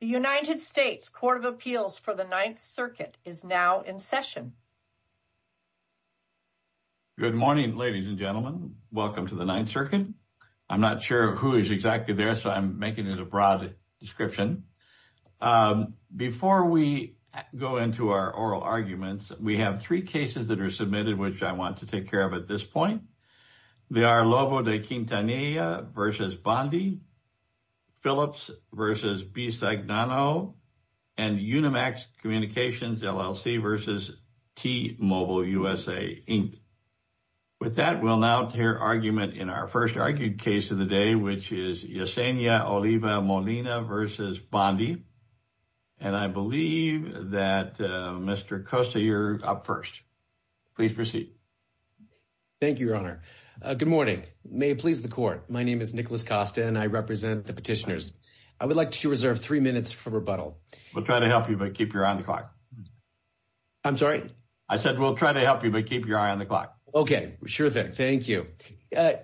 United States Court of Appeals for the Ninth Circuit is now in session. Good morning, ladies and gentlemen. Welcome to the Ninth Circuit. I'm not sure who is exactly there, so I'm making it a broad description. Before we go into our oral arguments, we have three cases that are submitted, which I want to take care of at this point. They are Lobo de Quintanilla v. Bondi, Phillips v. Bisagnano, and Unimax Communications LLC v. T-Mobile USA, Inc. With that, we'll now hear argument in our first argued case of the day, which is Yesenia Oliva Molina v. Bondi. And I believe that Mr. Costa, you're up first. Please proceed. Thank you, Your Honor. Good morning. May it please the Court. My name is Nicholas Costa, and I represent the petitioners. I would like to reserve three minutes for rebuttal. We'll try to help you, but keep your eye on the clock. I'm sorry? I said we'll try to help you, but keep your eye on the clock. Okay. Sure thing. Thank you.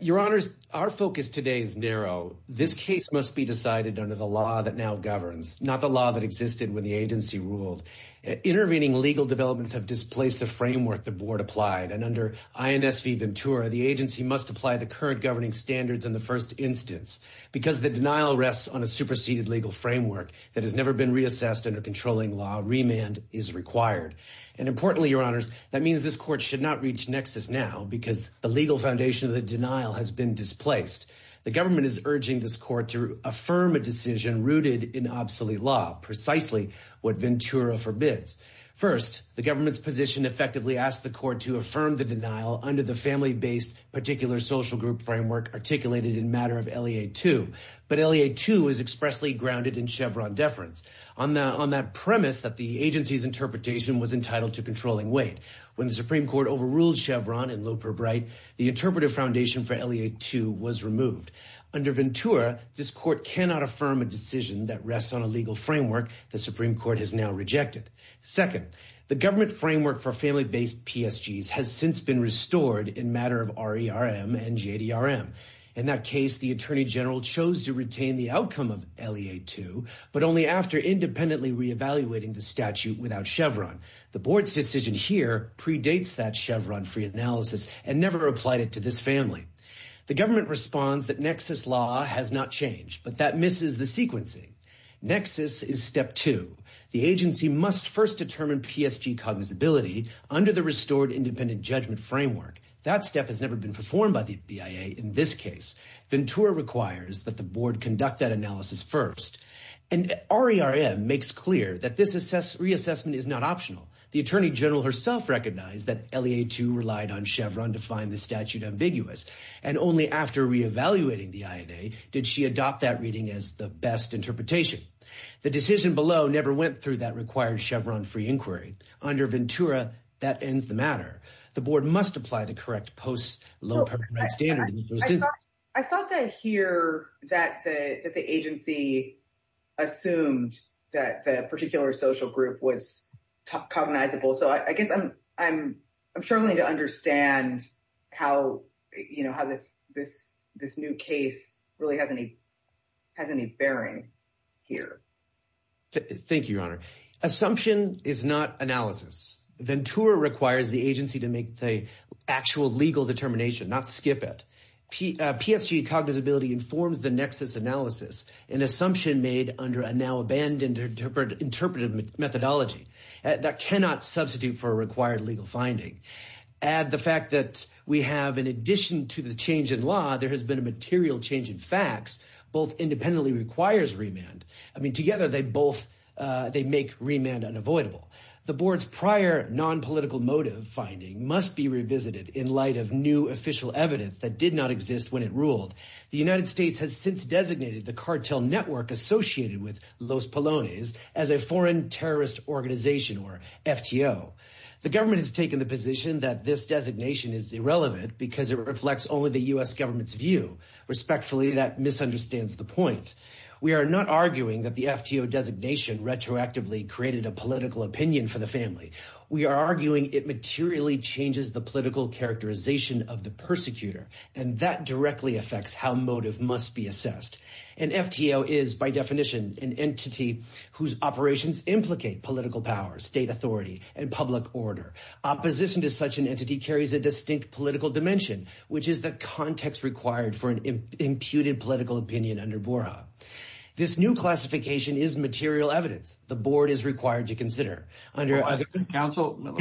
Your Honors, our focus today is narrow. This case must be decided under the law that now governs, not the law that existed when the agency ruled. Intervening legal developments have displaced the framework the Board applied. And under INS v. Ventura, the agency must apply the current governing standards in the first instance. Because the denial rests on a superseded legal framework that has never been reassessed under controlling law, remand is required. And importantly, Your Honors, that means this Court should not reach nexus now, because the legal foundation of the denial has been displaced. The government is urging this Court to affirm a decision rooted in obsolete law, precisely what Ventura forbids. First, the government's position effectively asks the Court to affirm the denial under the family-based particular social group framework articulated in matter of LEA 2. But LEA 2 is expressly grounded in Chevron deference, on that premise that the agency's interpretation was entitled to controlling weight. When the Supreme Court overruled Chevron in Loeper Bright, the interpretive foundation for LEA 2 was removed. Under Ventura, this Court cannot affirm a decision that rests on a legal framework the Supreme Court has now rejected. Second, the government framework for family-based PSGs has since been restored in matter of RERM and JDRM. In that case, the Attorney General chose to retain the outcome of LEA 2, but only after independently reevaluating the statute without Chevron. The Board's decision here predates that Chevron-free analysis and never applied it to this family. The government responds that nexus law has not changed, but that misses the sequencing. Nexus is step two. The agency must first determine PSG cognizability under the restored independent judgment framework. That step has never been performed by the BIA in this case. Ventura requires that the Board conduct that analysis first. And RERM makes clear that this reassessment is not optional. The Attorney General herself recognized that LEA 2 relied on Chevron to find the statute ambiguous, and only after reevaluating the INA did she adopt that reading as the best interpretation. The decision below never went through that required Chevron-free inquiry. Under Ventura, that ends the matter. The Board must apply the correct post-Loeper Bright standard. I thought that here that the agency assumed that the particular social group was cognizable. So I guess I'm struggling to understand how this new case really has any bearing here. Thank you, Your Honor. Assumption is not analysis. Ventura requires the agency to make the actual legal determination, not skip it. PSG cognizability informs the Nexus analysis, an assumption made under a now-abandoned interpretive methodology. That cannot substitute for a required legal finding. Add the fact that we have, in addition to the change in law, there has been a material change in facts. Both independently requires remand. I mean, together, they both make remand unavoidable. The Board's prior nonpolitical motive finding must be revisited in light of new official evidence that did not exist when it ruled. The United States has since designated the cartel network associated with Los Polones as a foreign terrorist organization, or FTO. The government has taken the position that this designation is irrelevant because it reflects only the U.S. government's view. Respectfully, that misunderstands the point. We are not arguing that the FTO designation retroactively created a political opinion for the family. We are arguing it materially changes the political characterization of the persecutor, and that directly affects how motive must be assessed. An FTO is, by definition, an entity whose operations implicate political power, state authority, and public order. Opposition to such an entity carries a distinct political dimension, which is the context required for an imputed political opinion under BORA. This new classification is material evidence the Board is required to consider. Counsel,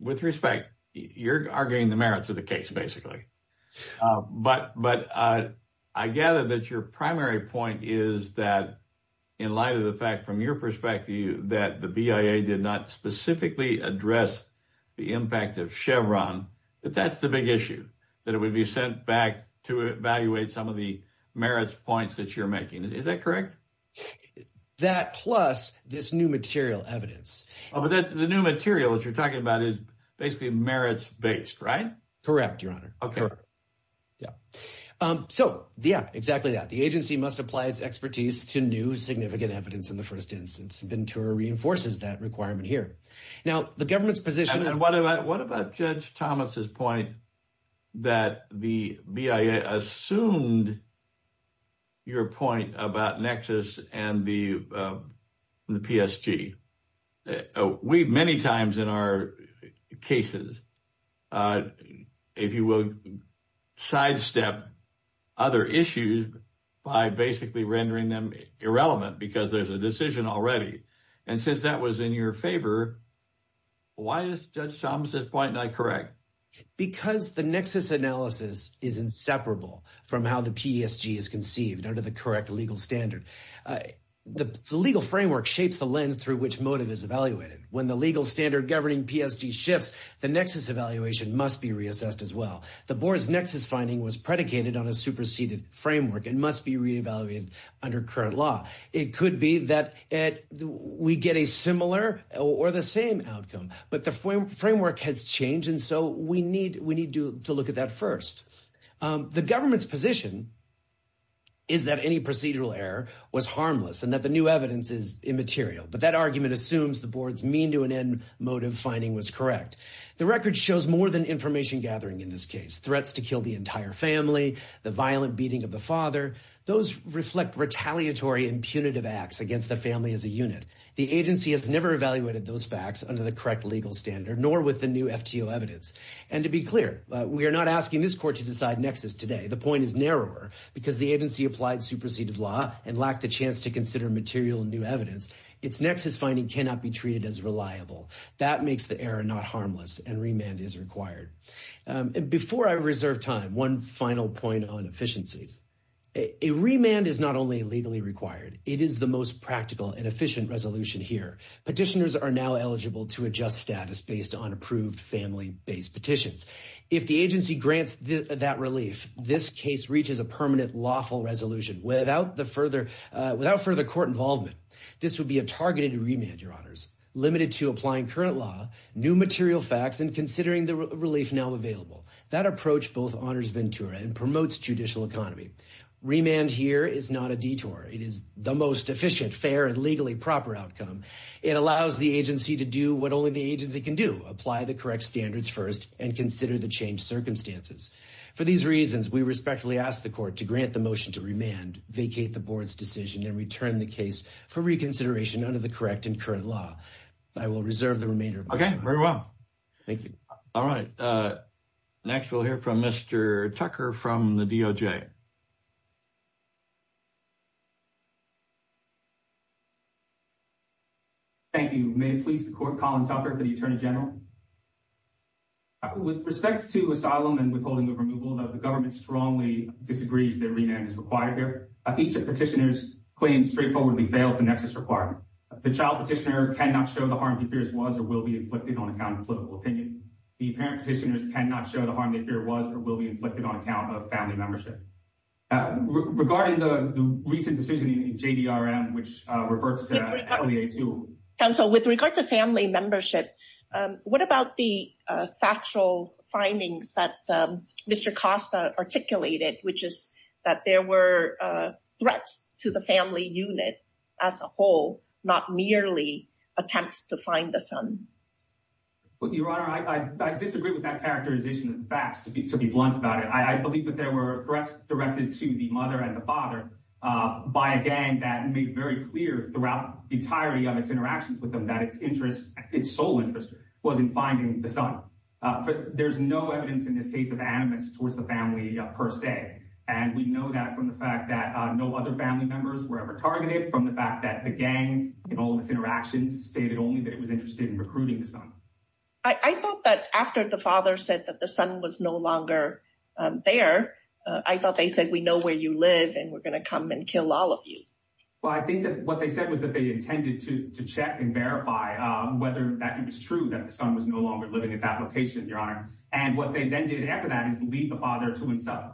with respect, you're arguing the merits of the case, basically. But I gather that your primary point is that in light of the fact, from your perspective, that the BIA did not specifically address the impact of Chevron, that that's the big issue. That it would be sent back to evaluate some of the merits points that you're making. Is that correct? That, plus this new material evidence. But the new material that you're talking about is basically merits-based, right? Correct, Your Honor. Okay. Yeah. So, yeah, exactly that. The agency must apply its expertise to new significant evidence in the first instance. Ventura reinforces that requirement here. Now, the government's position— What about Judge Thomas's point that the BIA assumed your point about Nexus and the PSG? We many times in our cases, if you will, sidestep other issues by basically rendering them irrelevant because there's a decision already. And since that was in your favor, why is Judge Thomas's point not correct? Because the Nexus analysis is inseparable from how the PSG is conceived under the correct legal standard. The legal framework shapes the lens through which motive is evaluated. When the legal standard governing PSG shifts, the Nexus evaluation must be reassessed as well. The board's Nexus finding was predicated on a superseded framework and must be re-evaluated under current law. It could be that we get a similar or the same outcome. But the framework has changed, and so we need to look at that first. The government's position is that any procedural error was harmless and that the new evidence is immaterial. But that argument assumes the board's mean-to-an-end motive finding was correct. The record shows more than information gathering in this case—threats to kill the entire family, the violent beating of the father. Those reflect retaliatory and punitive acts against the family as a unit. The agency has never evaluated those facts under the correct legal standard, nor with the new FTO evidence. And to be clear, we are not asking this court to decide Nexus today. The point is narrower because the agency applied superseded law and lacked the chance to consider material new evidence. Its Nexus finding cannot be treated as reliable. That makes the error not harmless, and remand is required. Before I reserve time, one final point on efficiency. A remand is not only legally required, it is the most practical and efficient resolution here. Petitioners are now eligible to adjust status based on approved family-based petitions. If the agency grants that relief, this case reaches a permanent lawful resolution without further court involvement. This would be a targeted remand, Your Honors. Limited to applying current law, new material facts, and considering the relief now available. That approach both honors Ventura and promotes judicial economy. Remand here is not a detour. It is the most efficient, fair, and legally proper outcome. It allows the agency to do what only the agency can do—apply the correct standards first and consider the changed circumstances. For these reasons, we respectfully ask the Court to grant the motion to remand, vacate the Board's decision, and return the case for reconsideration under the correct and current law. I will reserve the remainder of my time. Okay, very well. Thank you. All right. Next, we'll hear from Mr. Tucker from the DOJ. Thank you. May it please the Court, Colin Tucker for the Attorney General. With respect to asylum and withholding of removal, the government strongly disagrees that remand is required here. Each petitioner's claim straightforwardly fails the nexus requirement. The child petitioner cannot show the harm he fears was or will be inflicted on account of political opinion. The parent petitioners cannot show the harm they fear was or will be inflicted on account of family membership. Regarding the recent decision in JDRM, which reverts to LEA 2— Counsel, with regard to family membership, what about the factual findings that Mr. Costa articulated, which is that there were threats to the family unit as a whole, not merely attempts to find the son? Your Honor, I disagree with that characterization of the facts, to be blunt about it. I believe that there were threats directed to the mother and the father by a gang that made very clear throughout the entirety of its interactions with them that its interest, its sole interest, was in finding the son. There's no evidence in this case of animus towards the family per se. And we know that from the fact that no other family members were ever targeted, from the fact that the gang, in all of its interactions, stated only that it was interested in recruiting the son. I thought that after the father said that the son was no longer there, I thought they said, we know where you live and we're going to come and kill all of you. Well, I think that what they said was that they intended to check and verify whether that it was true that the son was no longer living at that location, Your Honor. And what they then did after that is to leave the father to himself.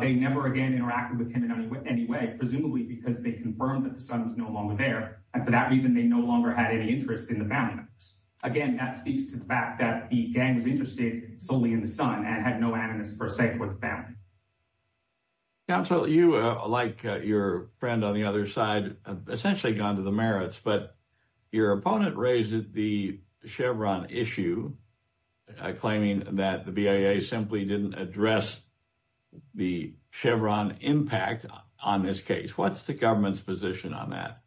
They never again interacted with him in any way, presumably because they confirmed that the son was no longer there. And for that reason, they no longer had any interest in the family members. Again, that speaks to the fact that the gang was interested solely in the son and had no animus per se for the family. Counsel, you, like your friend on the other side, have essentially gone to the merits, but your opponent raised the Chevron issue, claiming that the BIA simply didn't address the Chevron impact on this case. What's the government's position on that?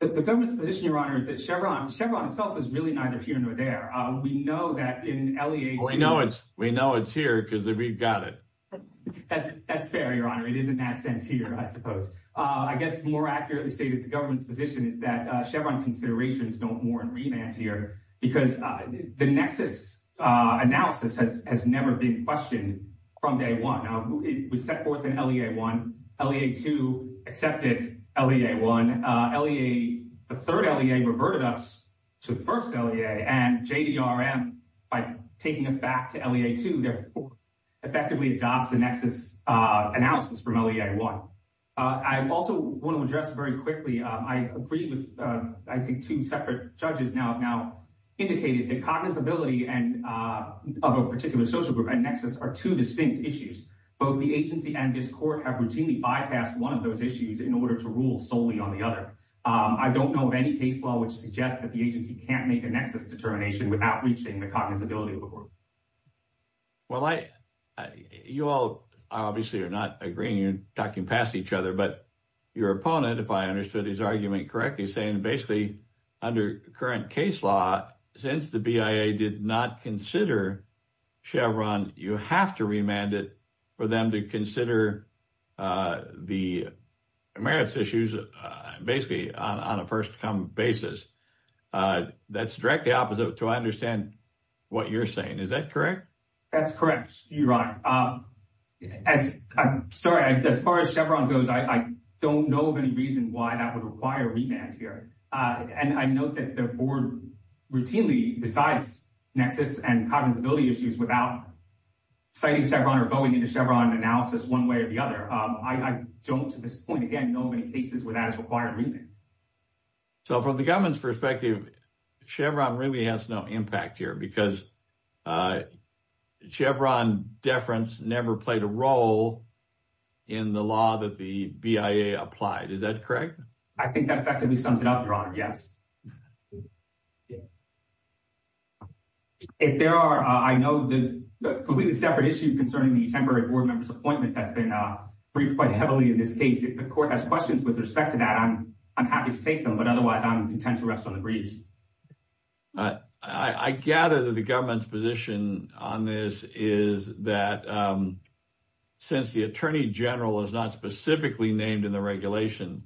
The government's position, Your Honor, is that Chevron itself is really neither here nor there. We know that in LEA 2. We know it's here because we've got it. That's fair, Your Honor. It is in that sense here, I suppose. I guess more accurately stated, the government's position is that Chevron considerations don't warrant remand here because the nexus analysis has never been questioned from day one. It was set forth in LEA 1. LEA 2 accepted LEA 1. The third LEA reverted us to the first LEA, and JDRM, by taking us back to LEA 2, effectively adopts the nexus analysis from LEA 1. I also want to address very quickly, I agree with, I think, two separate judges now have now indicated that cognizability of a particular social group and nexus are two distinct issues. Both the agency and this court have routinely bypassed one of those issues in order to rule solely on the other. I don't know of any case law which suggests that the agency can't make a nexus determination without reaching the cognizability of a group. Well, you all obviously are not agreeing. You're talking past each other. But your opponent, if I understood his argument correctly, is saying basically under current case law, since the BIA did not consider Chevron, you have to remand it for them to consider the merits issues basically on a first-come basis. That's directly opposite to what I understand what you're saying. Is that correct? That's correct, Your Honor. As far as Chevron goes, I don't know of any reason why that would require remand here. And I note that the board routinely decides nexus and cognizability issues without citing Chevron or going into Chevron analysis one way or the other. I don't, at this point, again, know of any cases where that is required remand. So from the government's perspective, Chevron really has no impact here because Chevron deference never played a role in the law that the BIA applied. Is that correct? I think that effectively sums it up, Your Honor. Yes. If there are, I know, completely separate issue concerning the temporary board member's appointment that's been briefed quite heavily in this case. If the court has questions with respect to that, I'm happy to take them. But otherwise, I'm content to rest on the breeze. I gather that the government's position on this is that since the attorney general is not specifically named in the regulation,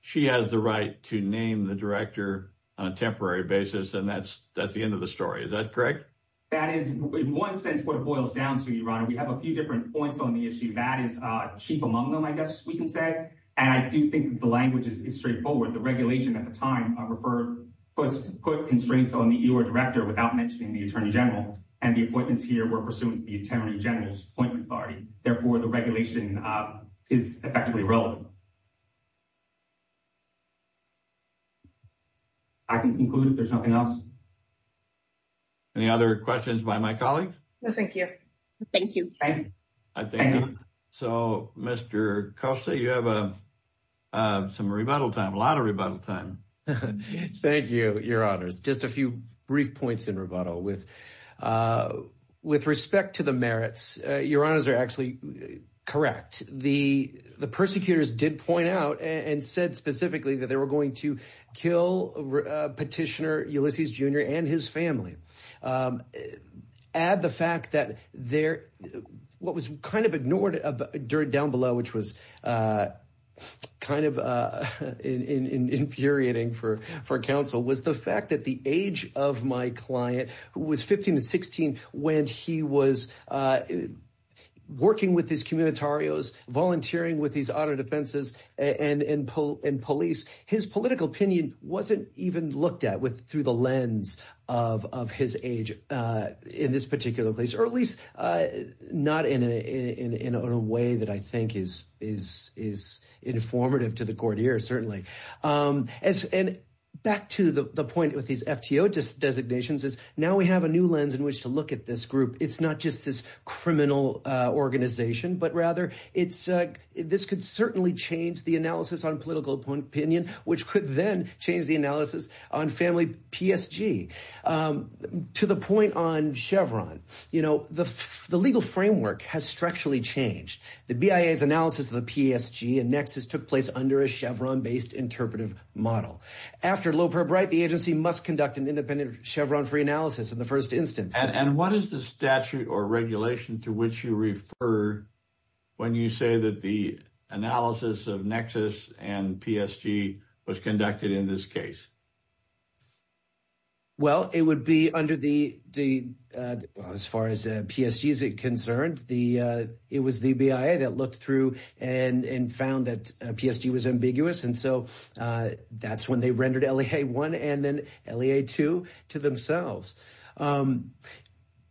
she has the right to name the director on a temporary basis. And that's the end of the story. Is that correct? That is, in one sense, what it boils down to, Your Honor. We have a few different points on the issue. That is chief among them, I guess we can say. And I do think the language is straightforward. The regulation at the time put constraints on the EOR director without mentioning the attorney general. And the appointments here were pursuant to the attorney general's appointment authority. Therefore, the regulation is effectively irrelevant. I can conclude if there's nothing else. Any other questions by my colleagues? No, thank you. Thank you. Thank you. So, Mr. Costa, you have some rebuttal time, a lot of rebuttal time. Thank you, Your Honors. Just a few brief points in rebuttal. With respect to the merits, Your Honors are actually correct. The persecutors did point out and said specifically that they were going to kill Petitioner Ulysses Jr. and his family. Add the fact that what was kind of ignored down below, which was kind of infuriating for counsel, was the fact that the age of my client, who was 15 to 16 when he was working with his communitarios, volunteering with these auto defenses and police, his political opinion wasn't even looked at through the lens of his age in this particular place, or at least not in a way that I think is informative to the court here, certainly. And back to the point with these FTO designations is now we have a new lens in which to look at this group. It's not just this criminal organization, but rather this could certainly change the analysis on political opinion, which could then change the analysis on family PSG. To the point on Chevron, you know, the legal framework has structurally changed. The BIA's analysis of the PSG and Nexus took place under a Chevron-based interpretive model. After Loper Bright, the agency must conduct an independent Chevron-free analysis in the first instance. And what is the statute or regulation to which you refer when you say that the analysis of Nexus and PSG was conducted in this case? Well, it would be under the, as far as PSG is concerned, it was the BIA that looked through and found that PSG was ambiguous. And so that's when they rendered LEA 1 and then LEA 2 to themselves.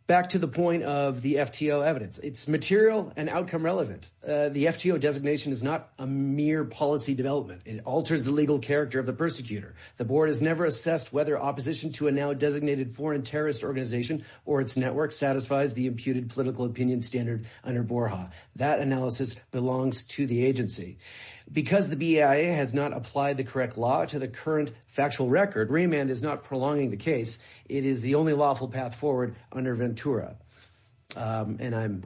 Back to the point of the FTO evidence, it's material and outcome relevant. The FTO designation is not a mere policy development. It alters the legal character of the persecutor. The board has never assessed whether opposition to a now designated foreign terrorist organization or its network satisfies the imputed political opinion standard under Borja. That analysis belongs to the agency. Because the BIA has not applied the correct law to the current factual record, remand is not prolonging the case. It is the only lawful path forward under Ventura. And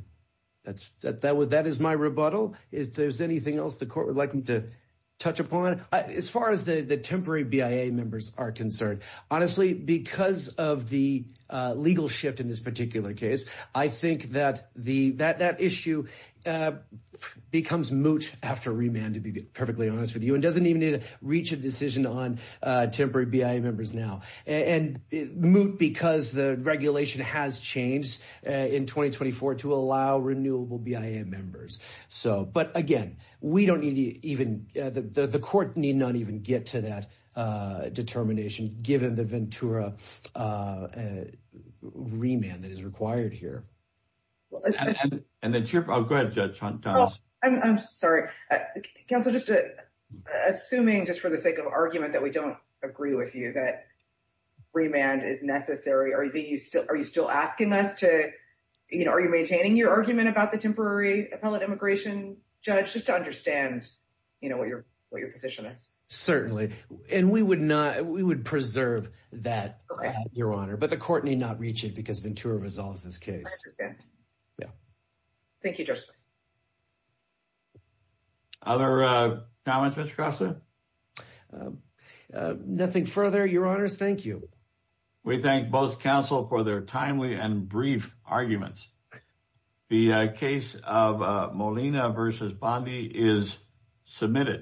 that is my rebuttal. If there's anything else the court would like me to touch upon, as far as the temporary BIA members are concerned. Honestly, because of the legal shift in this particular case, I think that issue becomes moot after remand, to be perfectly honest with you. And doesn't even need to reach a decision on temporary BIA members now. And moot because the regulation has changed in 2024 to allow renewable BIA members. But again, we don't need to even, the court need not even get to that determination given the Ventura remand that is required here. I'm sorry. Counsel, just assuming just for the sake of argument that we don't agree with you that remand is necessary. Are you still asking us to, you know, are you maintaining your argument about the temporary appellate immigration judge? Just to understand, you know, what your what your position is. Certainly. And we would not, we would preserve that, Your Honor. But the court need not reach it because Ventura resolves this case. Yeah. Thank you, Justice. Other comments, Mr. Crossley? Nothing further, Your Honors. Thank you. We thank both counsel for their timely and brief arguments. The case of Molina versus Bondi is submitted.